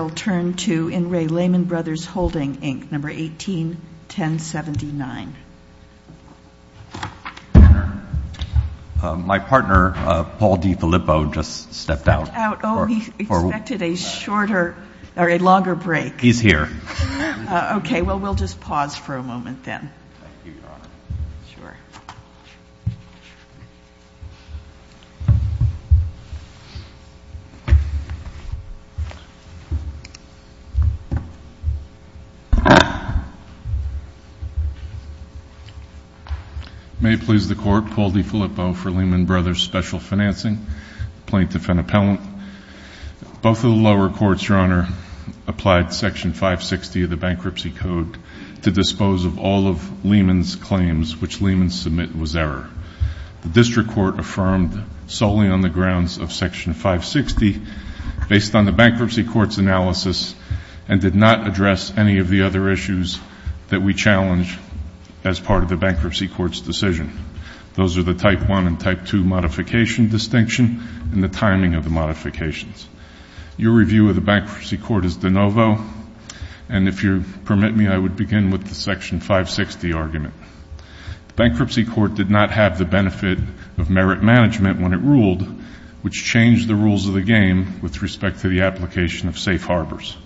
My partner, Paul D. Filippo, just stepped out. Oh, he expected a shorter or a longer break. He's here. Okay, well, we'll just pause for a moment then. Thank you, Your Honor. Sure. May it please the Court, Paul D. Filippo for Lehman Brothers Special Financing, plaintiff and appellant. Both of the lower courts, Your Honor, applied Section 560 of the Bankruptcy Code to dispose of all of Lehman's claims, which Lehman's submit was error. The district court affirmed solely on the grounds of Section 560 based on the bankruptcy court's analysis and did not address any of the other issues that we challenge as part of the bankruptcy court's decision. Those are the Type 1 and Type 2 modification distinction and the timing of the modifications. Your review of the bankruptcy court is de novo. And if you'll permit me, I would begin with the Section 560 argument. The bankruptcy court did not have the benefit of merit management when it ruled, which changed the rules of the game with respect to the application of safe harbors.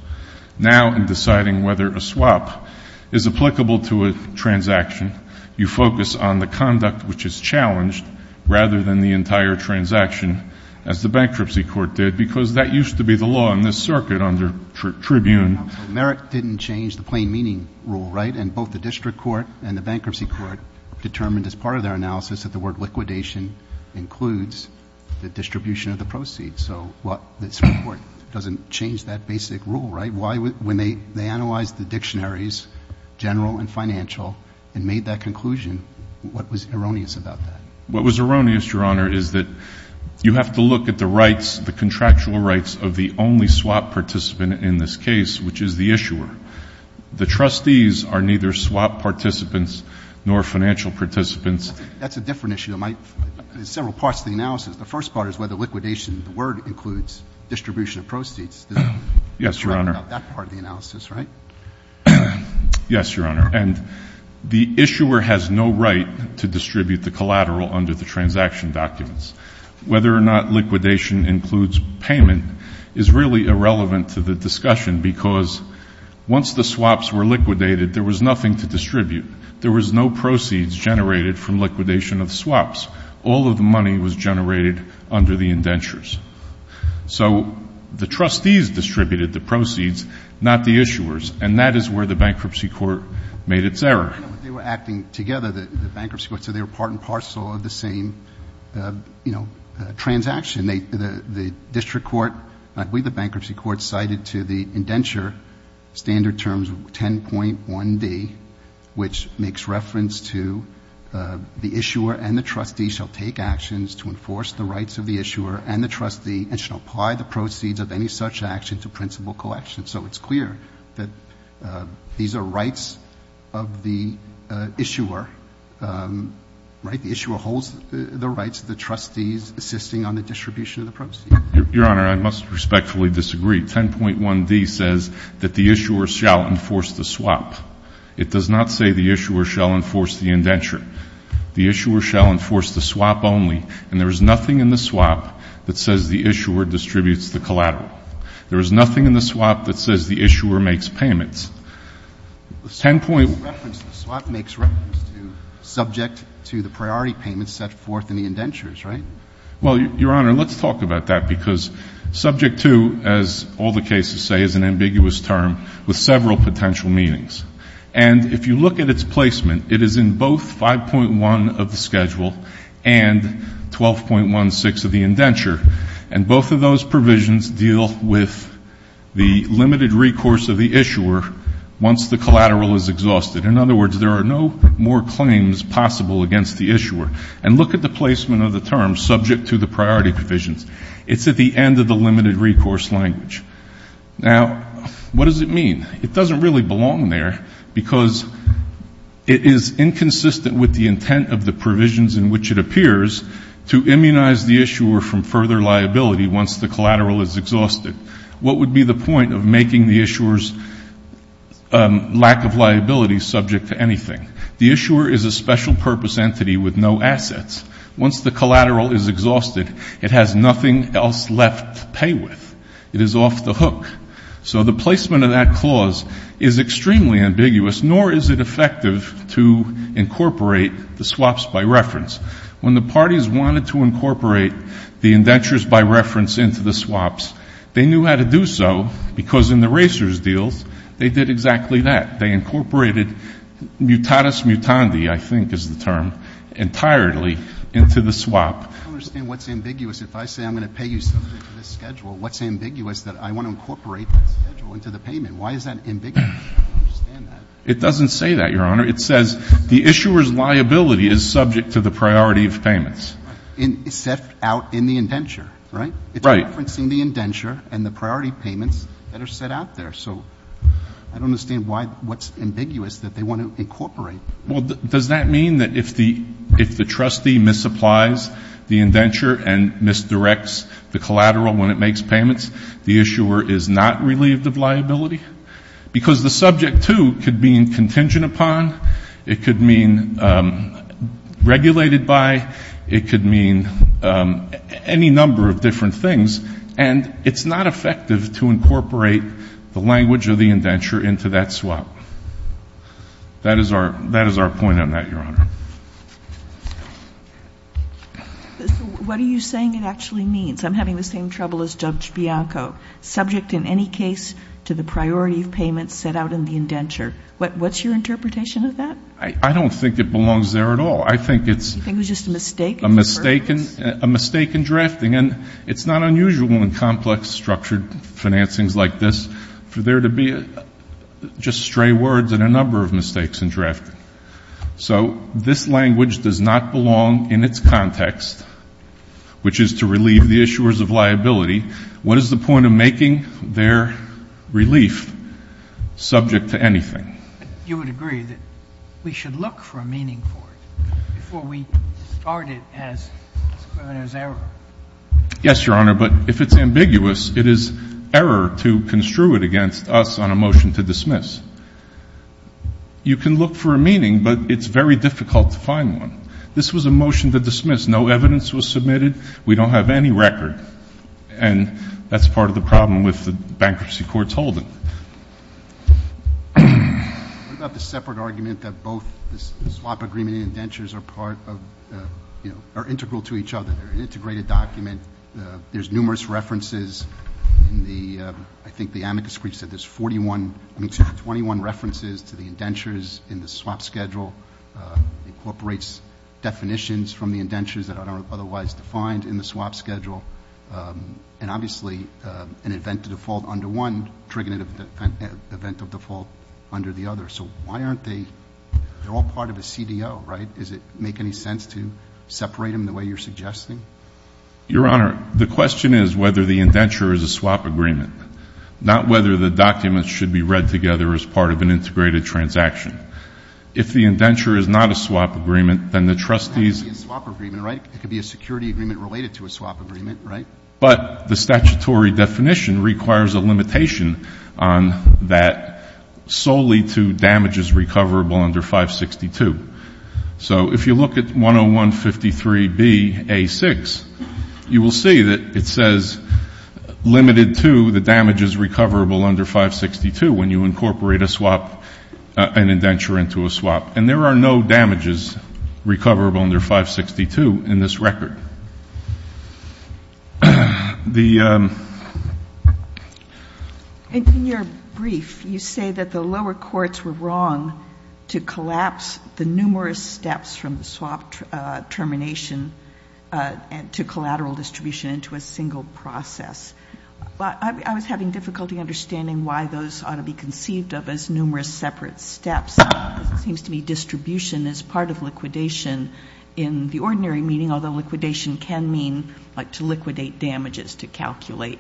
Now in deciding whether a swap is applicable to a transaction, you focus on the conduct which is challenged rather than the entire transaction, as the bankruptcy court did, because that used to be the law in this circuit under Tribune. So merit didn't change the plain meaning rule, right? And both the district court and the bankruptcy court determined as part of their analysis that the word liquidation includes the distribution of the proceeds. So this report doesn't change that basic rule, right? When they analyzed the dictionaries, general and financial, and made that conclusion, what was erroneous about that? What was erroneous, Your Honor, is that you have to look at the rights, the contractual rights of the only swap participant in this case, which is the issuer. The trustees are neither swap participants nor financial participants. There's several parts to the analysis. The first part is whether liquidation of the word includes distribution of proceeds. Yes, Your Honor. That part of the analysis, right? Yes, Your Honor. And the issuer has no right to distribute the collateral under the transaction documents. Whether or not liquidation includes payment is really irrelevant to the discussion because once the swaps were liquidated, there was nothing to distribute. There was no proceeds generated from liquidation of the swaps. All of the money was generated under the indentures. So the trustees distributed the proceeds, not the issuers, and that is where the Bankruptcy Court made its error. They were acting together, the Bankruptcy Court. So they were part and parcel of the same, you know, transaction. The district court, we, the Bankruptcy Court, cited to the indenture standard terms 10.1D, which makes reference to the issuer and the trustee shall take actions to enforce the rights of the issuer and the trustee and shall apply the proceeds of any such action to principal collection. So it's clear that these are rights of the issuer, right? The issuer holds the rights of the trustees assisting on the distribution of the proceeds. Your Honor, I must respectfully disagree. 10.1D says that the issuer shall enforce the swap. It does not say the issuer shall enforce the indenture. The issuer shall enforce the swap only, and there is nothing in the swap that says the issuer distributes the collateral. There is nothing in the swap that says the issuer makes payments. The swap makes reference to subject to the priority payments set forth in the indentures, right? Well, Your Honor, let's talk about that because subject to, as all the cases say, is an ambiguous term with several potential meanings. And if you look at its placement, it is in both 5.1 of the schedule and 12.16 of the indenture, and both of those provisions deal with the limited recourse of the issuer once the collateral is exhausted. In other words, there are no more claims possible against the issuer. And look at the placement of the terms subject to the priority provisions. It's at the end of the limited recourse language. Now, what does it mean? It doesn't really belong there because it is inconsistent with the intent of the provisions in which it appears to immunize the issuer from further liability once the collateral is exhausted. What would be the point of making the issuer's lack of liability subject to anything? The issuer is a special purpose entity with no assets. Once the collateral is exhausted, it has nothing else left to pay with. It is off the hook. So the placement of that clause is extremely ambiguous, nor is it effective to incorporate the swaps by reference. When the parties wanted to incorporate the indentures by reference into the swaps, they knew how to do so because in the racers' deals, they did exactly that. They incorporated mutatis mutandi, I think is the term, entirely into the swap. I don't understand what's ambiguous. If I say I'm going to pay you something for this schedule, what's ambiguous that I want to incorporate that schedule into the payment? Why is that ambiguous? I don't understand that. It doesn't say that, Your Honor. It says the issuer's liability is subject to the priority of payments. It's set out in the indenture, right? Right. It's referencing the indenture and the priority payments that are set out there. So I don't understand why what's ambiguous that they want to incorporate. Well, does that mean that if the trustee misapplies the indenture and misdirects the collateral when it makes payments, the issuer is not relieved of liability? Because the subject, too, could mean contingent upon, it could mean regulated by, it could mean any number of different things, and it's not effective to incorporate the language of the indenture into that swap. That is our point on that, Your Honor. What are you saying it actually means? I'm having the same trouble as Judge Bianco. Subject in any case to the priority of payments set out in the indenture. What's your interpretation of that? I don't think it belongs there at all. I think it's a mistake in drafting. And it's not unusual in complex structured financings like this for there to be just stray words and a number of mistakes in drafting. So this language does not belong in its context, which is to relieve the issuers of liability. What is the point of making their relief subject to anything? You would agree that we should look for a meaning for it before we start it as a criminal's error. Yes, Your Honor, but if it's ambiguous, it is error to construe it against us on a motion to dismiss. You can look for a meaning, but it's very difficult to find one. This was a motion to dismiss. No evidence was submitted. We don't have any record. And that's part of the problem with the bankruptcy court's holding. What about the separate argument that both the swap agreement and indentures are part of, you know, are integral to each other? They're an integrated document. There's numerous references in the, I think the amicus brief said there's 41, I mean 21 references to the indentures in the swap schedule. Incorporates definitions from the indentures that aren't otherwise defined in the swap schedule. And obviously an event of default under one triggering an event of default under the other. So why aren't they all part of a CDO, right? Does it make any sense to separate them the way you're suggesting? Your Honor, the question is whether the indenture is a swap agreement, not whether the documents should be read together as part of an integrated transaction. If the indenture is not a swap agreement, then the trustees. It could be a swap agreement, right? It could be a security agreement related to a swap agreement, right? But the statutory definition requires a limitation on that solely to damages recoverable under 562. So if you look at 101-53-B-A-6, you will see that it says limited to the damages recoverable under 562 when you incorporate a swap, an indenture into a swap. And there are no damages recoverable under 562 in this record. In your brief, you say that the lower courts were wrong to collapse the numerous steps from the swap termination to collateral distribution into a single process. I was having difficulty understanding why those ought to be conceived of as numerous separate steps. It seems to me distribution is part of liquidation in the ordinary meaning, although liquidation can mean to liquidate damages to calculate.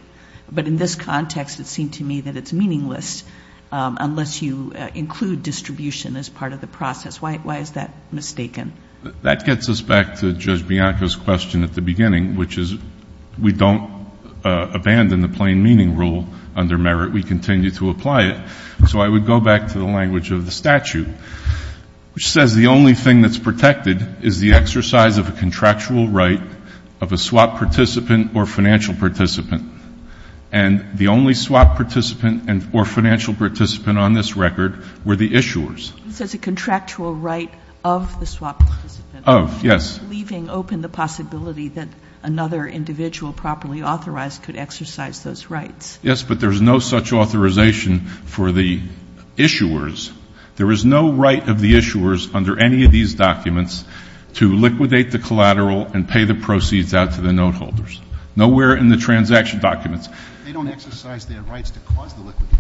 But in this context, it seemed to me that it's meaningless unless you include distribution as part of the process. Why is that mistaken? That gets us back to Judge Bianco's question at the beginning, which is we don't abandon the plain meaning rule under merit. We continue to apply it. So I would go back to the language of the statute, which says the only thing that's protected is the exercise of a contractual right of a swap participant or financial participant. And the only swap participant or financial participant on this record were the issuers. It says a contractual right of the swap participant. Of, yes. Leaving open the possibility that another individual properly authorized could exercise those rights. Yes, but there's no such authorization for the issuers. There is no right of the issuers under any of these documents to liquidate the collateral and pay the proceeds out to the note holders. Nowhere in the transaction documents. They don't exercise their rights to cause the liquidation.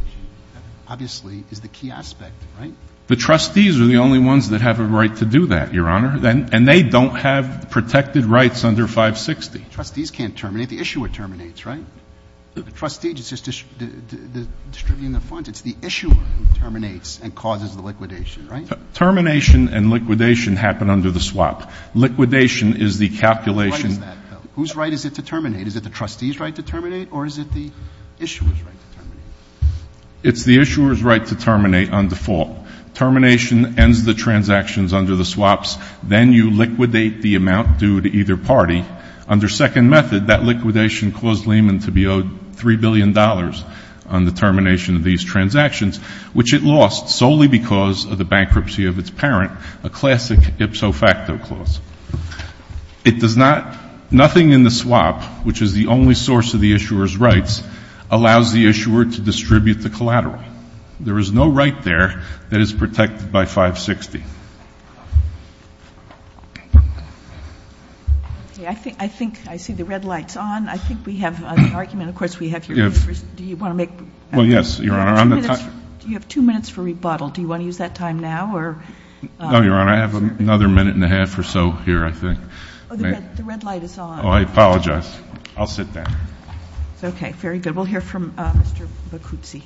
That obviously is the key aspect, right? The trustees are the only ones that have a right to do that, Your Honor, and they don't have protected rights under 560. Trustees can't terminate. The issuer terminates, right? The trustee is just distributing the funds. It's the issuer who terminates and causes the liquidation, right? Termination and liquidation happen under the swap. Liquidation is the calculation. Whose right is that, though? Whose right is it to terminate? Is it the trustee's right to terminate or is it the issuer's right to terminate? It's the issuer's right to terminate on default. Termination ends the transactions under the swaps. Then you liquidate the amount due to either party. Under second method, that liquidation caused Lehman to be owed $3 billion on the termination of these transactions, which it lost solely because of the bankruptcy of its parent, a classic ipso facto clause. It does not ñ nothing in the swap, which is the only source of the issuer's rights, allows the issuer to distribute the collateral. There is no right there that is protected by 560. I think I see the red lights on. I think we have an argument. Of course, we have your first ñ do you want to make ñ Well, yes, Your Honor. Do you have two minutes for rebuttal? Do you want to use that time now or ñ No, Your Honor. I have another minute and a half or so here, I think. Oh, the red light is on. Oh, I apologize. I'll sit down. Okay. Very good. We'll hear from Mr. Boccuzzi.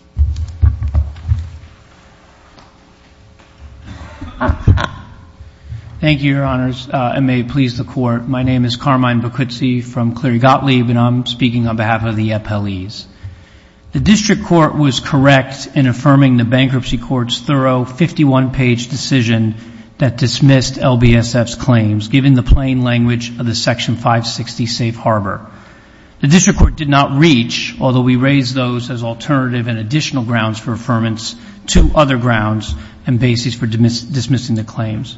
Thank you, Your Honors. I may please the Court. My name is Carmine Boccuzzi from Cleary Gottlieb, and I'm speaking on behalf of the FLEs. The district court was correct in affirming the bankruptcy court's thorough 51-page decision that dismissed LBSF's claims, given the plain language of the Section 560 Safe Harbor. The district court did not reach, although we raised those as alternative and additional grounds for affirmance, two other grounds and basis for dismissing the claims.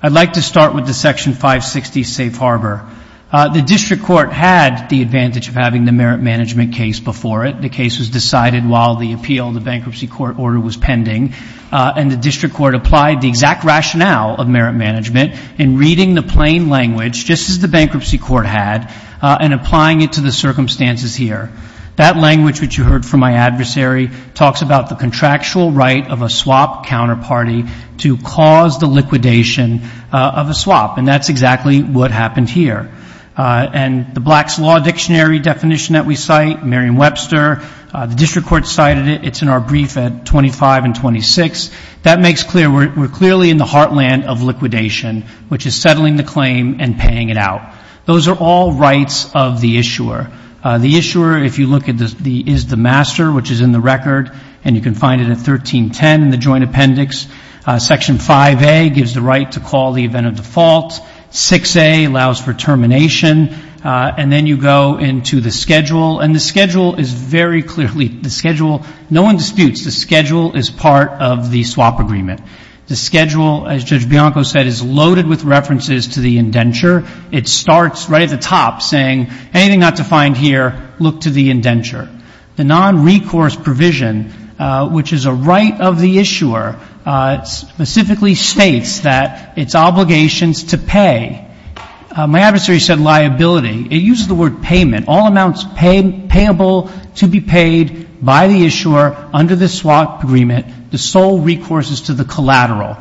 I'd like to start with the Section 560 Safe Harbor. The district court had the advantage of having the merit management case before it. The case was decided while the appeal of the bankruptcy court order was pending, and the district court applied the exact rationale of merit management in reading the plain language, just as the bankruptcy court had, and applying it to the circumstances here. That language, which you heard from my adversary, talks about the contractual right of a swap counterparty to cause the liquidation of a swap, and that's exactly what happened here. And the Black's Law Dictionary definition that we cite, Merriam-Webster, the district court cited it. It's in our brief at 25 and 26. That makes clear we're clearly in the heartland of liquidation, which is settling the claim and paying it out. Those are all rights of the issuer. The issuer, if you look at the is the master, which is in the record, and you can find it at 1310 in the joint appendix, Section 5A gives the right to call the event of default. 6A allows for termination. And then you go into the schedule, and the schedule is very clearly, the schedule, no one disputes, the schedule is part of the swap agreement. The schedule, as Judge Bianco said, is loaded with references to the indenture. It starts right at the top saying, anything not defined here, look to the indenture. The nonrecourse provision, which is a right of the issuer, specifically states that it's obligations to pay. My adversary said liability. It uses the word payment. All amounts payable to be paid by the issuer under the swap agreement, the sole recourse is to the collateral,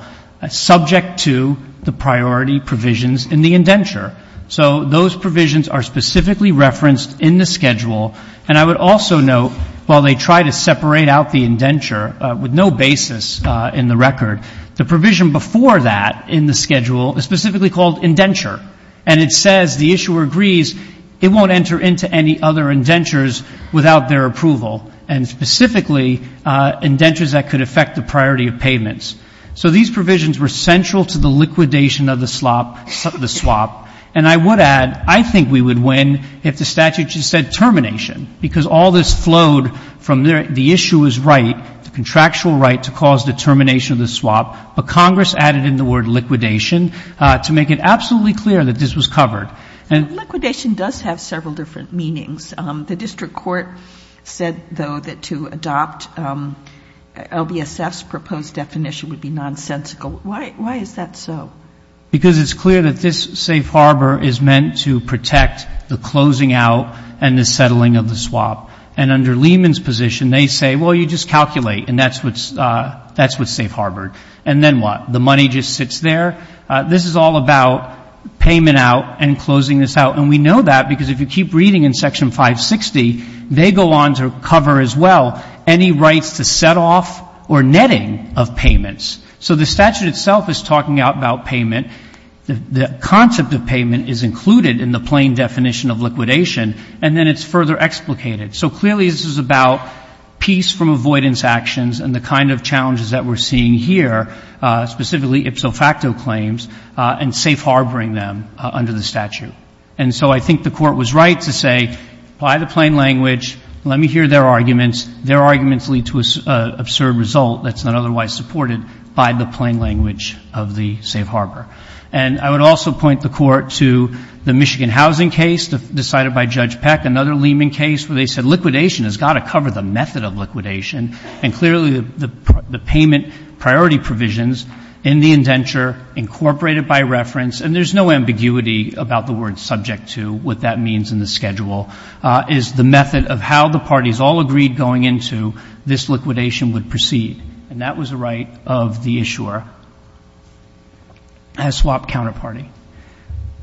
subject to the priority provisions in the indenture. So those provisions are specifically referenced in the schedule. And I would also note, while they try to separate out the indenture, with no basis in the record, the provision before that in the schedule is specifically called indenture. And it says the issuer agrees it won't enter into any other indentures without their approval, and specifically indentures that could affect the priority of payments. So these provisions were central to the liquidation of the swap. And I would add, I think we would win if the statute just said termination, because all this flowed from the issuer's right, the contractual right to cause the termination of the swap, but Congress added in the word liquidation to make it absolutely clear that this was covered. Liquidation does have several different meanings. The district court said, though, that to adopt LBSF's proposed definition would be nonsensical. Why is that so? Because it's clear that this safe harbor is meant to protect the closing out and the settling of the swap. And under Lehman's position, they say, well, you just calculate, and that's what's safe harbored. And then what? The money just sits there? This is all about payment out and closing this out. And we know that because if you keep reading in Section 560, they go on to cover as well any rights to set off or netting of payments. So the statute itself is talking out about payment. The concept of payment is included in the plain definition of liquidation, and then it's further explicated. So clearly this is about peace from avoidance actions and the kind of challenges that we're seeing here, specifically ipso facto claims and safe harboring them under the statute. And so I think the Court was right to say, apply the plain language, let me hear their arguments. Their arguments lead to an absurd result that's not otherwise supported by the plain language of the safe harbor. And I would also point the Court to the Michigan housing case decided by Judge Peck, another Lehman case where they said liquidation has got to cover the method of liquidation. And clearly the payment priority provisions in the indenture incorporated by reference, and there's no ambiguity about the word subject to what that means in the schedule, is the method of how the parties all agreed going into this liquidation would proceed. And that was the right of the issuer as swap counterparty.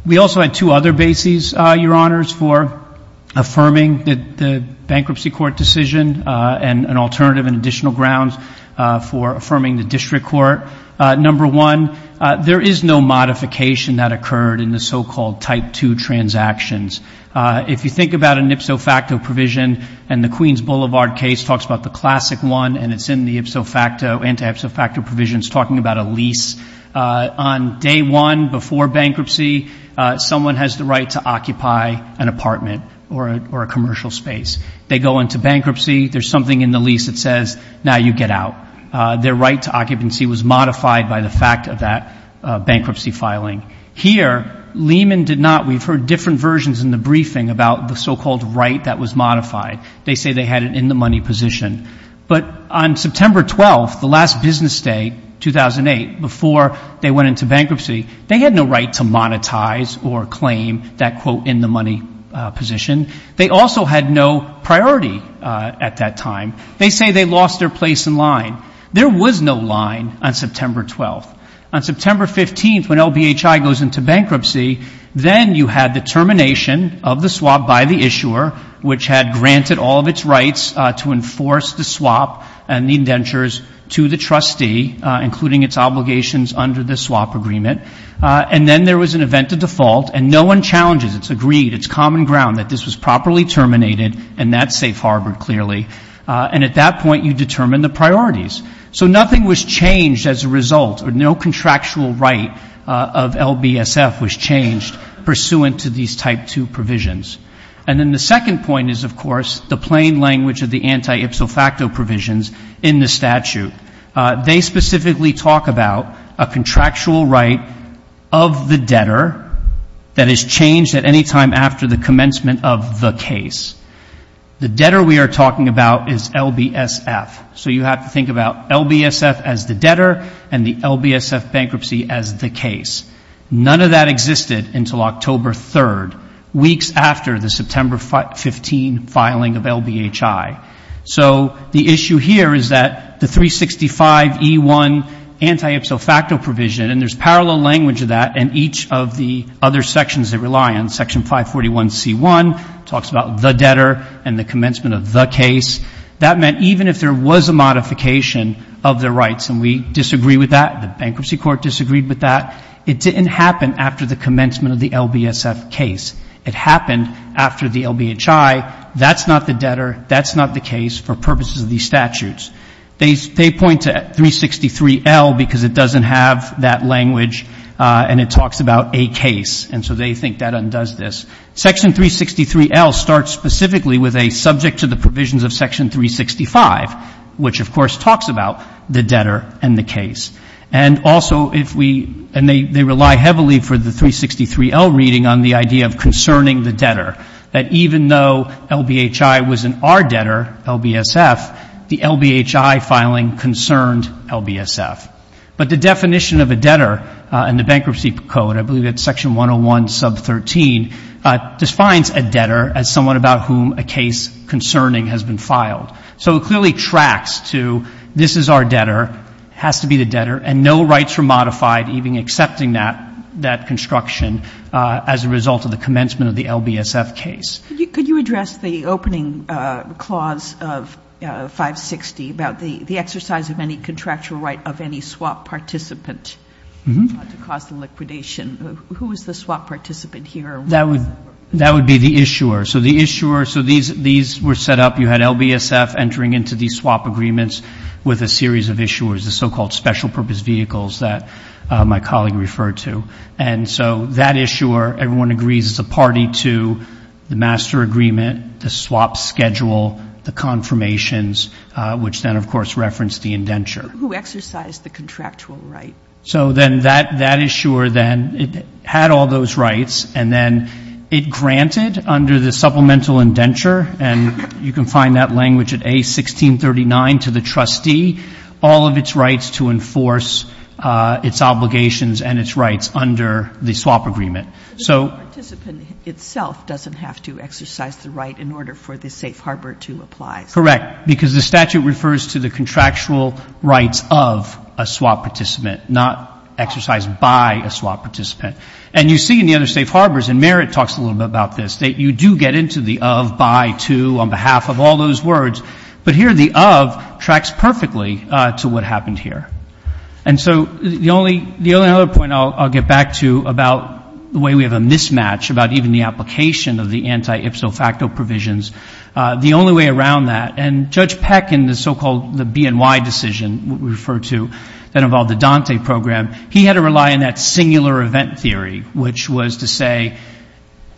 We also had two other bases, Your Honors, for affirming the bankruptcy court decision and an alternative and additional grounds for affirming the district court. Number one, there is no modification that occurred in the so-called type two transactions. If you think about an ipso facto provision, and the Queens Boulevard case talks about the classic one and it's in the ipso facto, anti-ipso facto provisions talking about a lease, on day one before bankruptcy, someone has the right to occupy an apartment or a commercial space. They go into bankruptcy, there's something in the lease that says, now you get out. Their right to occupancy was modified by the fact of that bankruptcy filing. Here, Lehman did not. We've heard different versions in the briefing about the so-called right that was modified. They say they had an in-the-money position. But on September 12th, the last business day, 2008, before they went into bankruptcy, they had no right to monetize or claim that quote in-the-money position. They also had no priority at that time. They say they lost their place in line. There was no line on September 12th. On September 15th, when LBHI goes into bankruptcy, then you had the termination of the swap by the issuer, which had granted all of its rights to enforce the swap and the indentures to the trustee, including its obligations under the swap agreement. And then there was an event of default, and no one challenges, it's agreed, it's common ground that this was properly terminated and that's safe harbored clearly. And at that point, you determine the priorities. So nothing was changed as a result, or no contractual right of LBSF was changed pursuant to these Type 2 provisions. And then the second point is, of course, the plain language of the anti-ipso facto provisions in the statute. They specifically talk about a contractual right of the debtor that is changed at any time after the commencement of the case. The debtor we are talking about is LBSF. So you have to think about LBSF as the debtor and the LBSF bankruptcy as the case. None of that existed until October 3rd, weeks after the September 15 filing of LBHI. So the issue here is that the 365E1 anti-ipso facto provision, and there's parallel language of that in each of the other sections that rely on Section 541C1, talks about the debtor and the commencement of the case. That meant even if there was a modification of the rights, and we disagree with that, the bankruptcy court disagreed with that, it didn't happen after the commencement of the LBSF case. It happened after the LBHI. That's not the debtor. That's not the case for purposes of these statutes. They point to 363L because it doesn't have that language, and it talks about a case. And so they think that undoes this. Section 363L starts specifically with a subject to the provisions of Section 365, which, of course, talks about the debtor and the case. And also if we, and they rely heavily for the 363L reading on the idea of concerning the debtor, that even though LBHI was in our debtor, LBSF, the LBHI filing concerned LBSF. But the definition of a debtor in the Bankruptcy Code, I believe it's Section 101 sub 13, defines a debtor as someone about whom a case concerning has been filed. So it clearly tracks to this is our debtor, has to be the debtor, and no rights were modified even accepting that construction as a result of the commencement of the LBSF case. Could you address the opening clause of 560 about the exercise of any contractual right of any swap participant to cause the liquidation? Who is the swap participant here? That would be the issuer. So the issuer, so these were set up. You had LBSF entering into these swap agreements with a series of issuers, the so-called special purpose vehicles that my colleague referred to. And so that issuer, everyone agrees, is a party to the master agreement, the swap schedule, the confirmations, which then, of course, reference the indenture. Who exercised the contractual right? So then that issuer then had all those rights, and then it granted under the supplemental indenture, and you can find that language at A1639 to the trustee, all of its rights to enforce its obligations and its rights under the swap agreement. But the swap participant itself doesn't have to exercise the right in order for the safe harbor to apply. Correct, because the statute refers to the contractual rights of a swap participant, not exercised by a swap participant. And you see in the other safe harbors, and Merritt talks a little bit about this, that you do get into the of, by, to on behalf of all those words. But here the of tracks perfectly to what happened here. And so the only other point I'll get back to about the way we have a mismatch, about even the application of the anti-ipso facto provisions, the only way around that, and Judge Peck in the so-called BNY decision, what we refer to, that involved the Dante program, he had to rely on that singular event theory, which was to say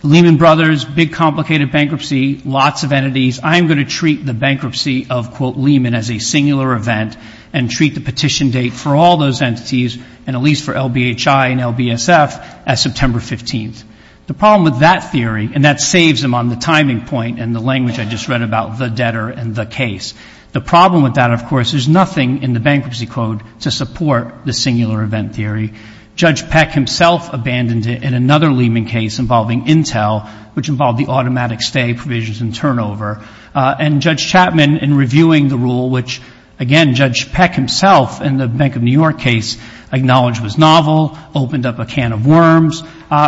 Lehman Brothers, big, complicated bankruptcy, lots of entities, I'm going to treat the bankruptcy of, quote, Lehman as a singular event and treat the petition date for all those entities, and at least for LBHI and LBSF, as September 15th. The problem with that theory, and that saves him on the timing point and the language I just read about the debtor and the case. The problem with that, of course, is nothing in the bankruptcy code to support the singular event theory. Judge Peck himself abandoned it in another Lehman case involving Intel, which involved the automatic stay provisions and turnover. And Judge Chapman, in reviewing the rule, which, again, Judge Peck himself in the Bank of New York case acknowledged was novel, opened up a can of worms,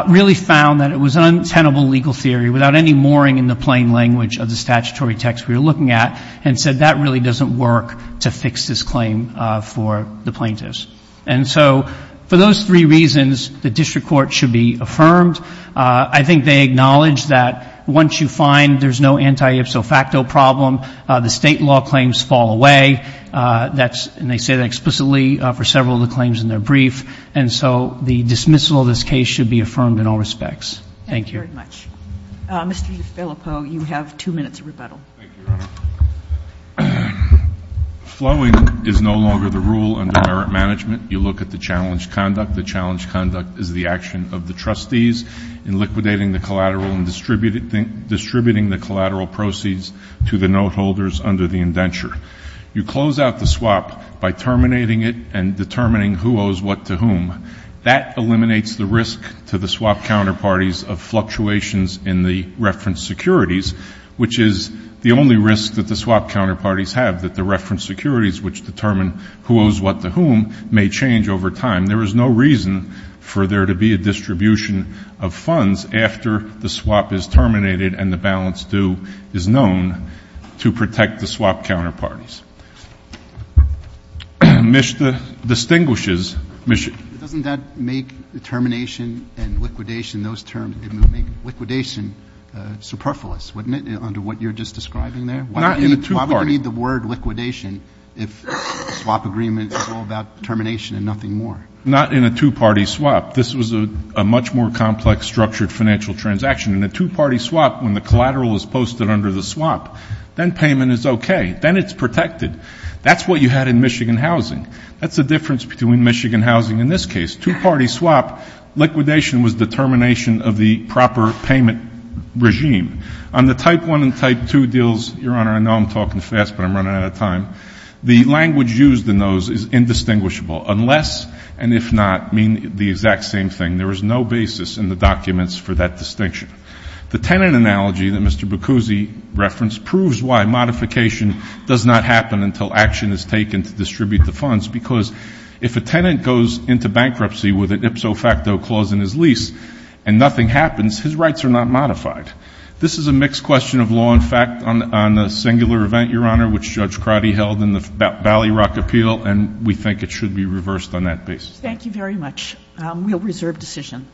really found that it was an untenable legal theory without any mooring in the plain language of the statutory text we were looking at and said that really doesn't work to fix this claim for the plaintiffs. And so for those three reasons, the district court should be affirmed. I think they acknowledge that once you find there's no anti-ipso facto problem, the state law claims fall away. And they say that explicitly for several of the claims in their brief. And so the dismissal of this case should be affirmed in all respects. Thank you. Thank you very much. Mr. DeFilippo, you have two minutes of rebuttal. Thank you, Your Honor. Flowing is no longer the rule under merit management. You look at the challenge conduct. The challenge conduct is the action of the trustees in liquidating the collateral and distributing the collateral proceeds to the note holders under the indenture. You close out the swap by terminating it and determining who owes what to whom. That eliminates the risk to the swap counterparties of fluctuations in the reference securities, which is the only risk that the swap counterparties have, that the reference securities which determine who owes what to whom may change over time. There is no reason for there to be a distribution of funds after the swap is terminated and the balance due is known to protect the swap counterparties. MSHDA distinguishes MSHDA. Doesn't that make the termination and liquidation, those terms, it would make liquidation superfluous, wouldn't it, under what you're just describing there? Not in a two-party. You don't need the word liquidation if the swap agreement is all about termination and nothing more. Not in a two-party swap. This was a much more complex, structured financial transaction. In a two-party swap, when the collateral is posted under the swap, then payment is okay. Then it's protected. That's what you had in Michigan housing. That's the difference between Michigan housing in this case. Two-party swap, liquidation was the termination of the proper payment regime. On the Type I and Type II deals, Your Honor, I know I'm talking fast, but I'm running out of time, the language used in those is indistinguishable unless and if not mean the exact same thing. There is no basis in the documents for that distinction. The tenant analogy that Mr. Bacuzzi referenced proves why modification does not happen until action is taken to distribute the funds because if a tenant goes into bankruptcy with an ipso facto clause in his lease and nothing happens, his rights are not modified. This is a mixed question of law and fact on a singular event, Your Honor, which Judge Crotty held in the Ballyrock Appeal, and we think it should be reversed on that basis. Thank you very much. We'll reserve decision.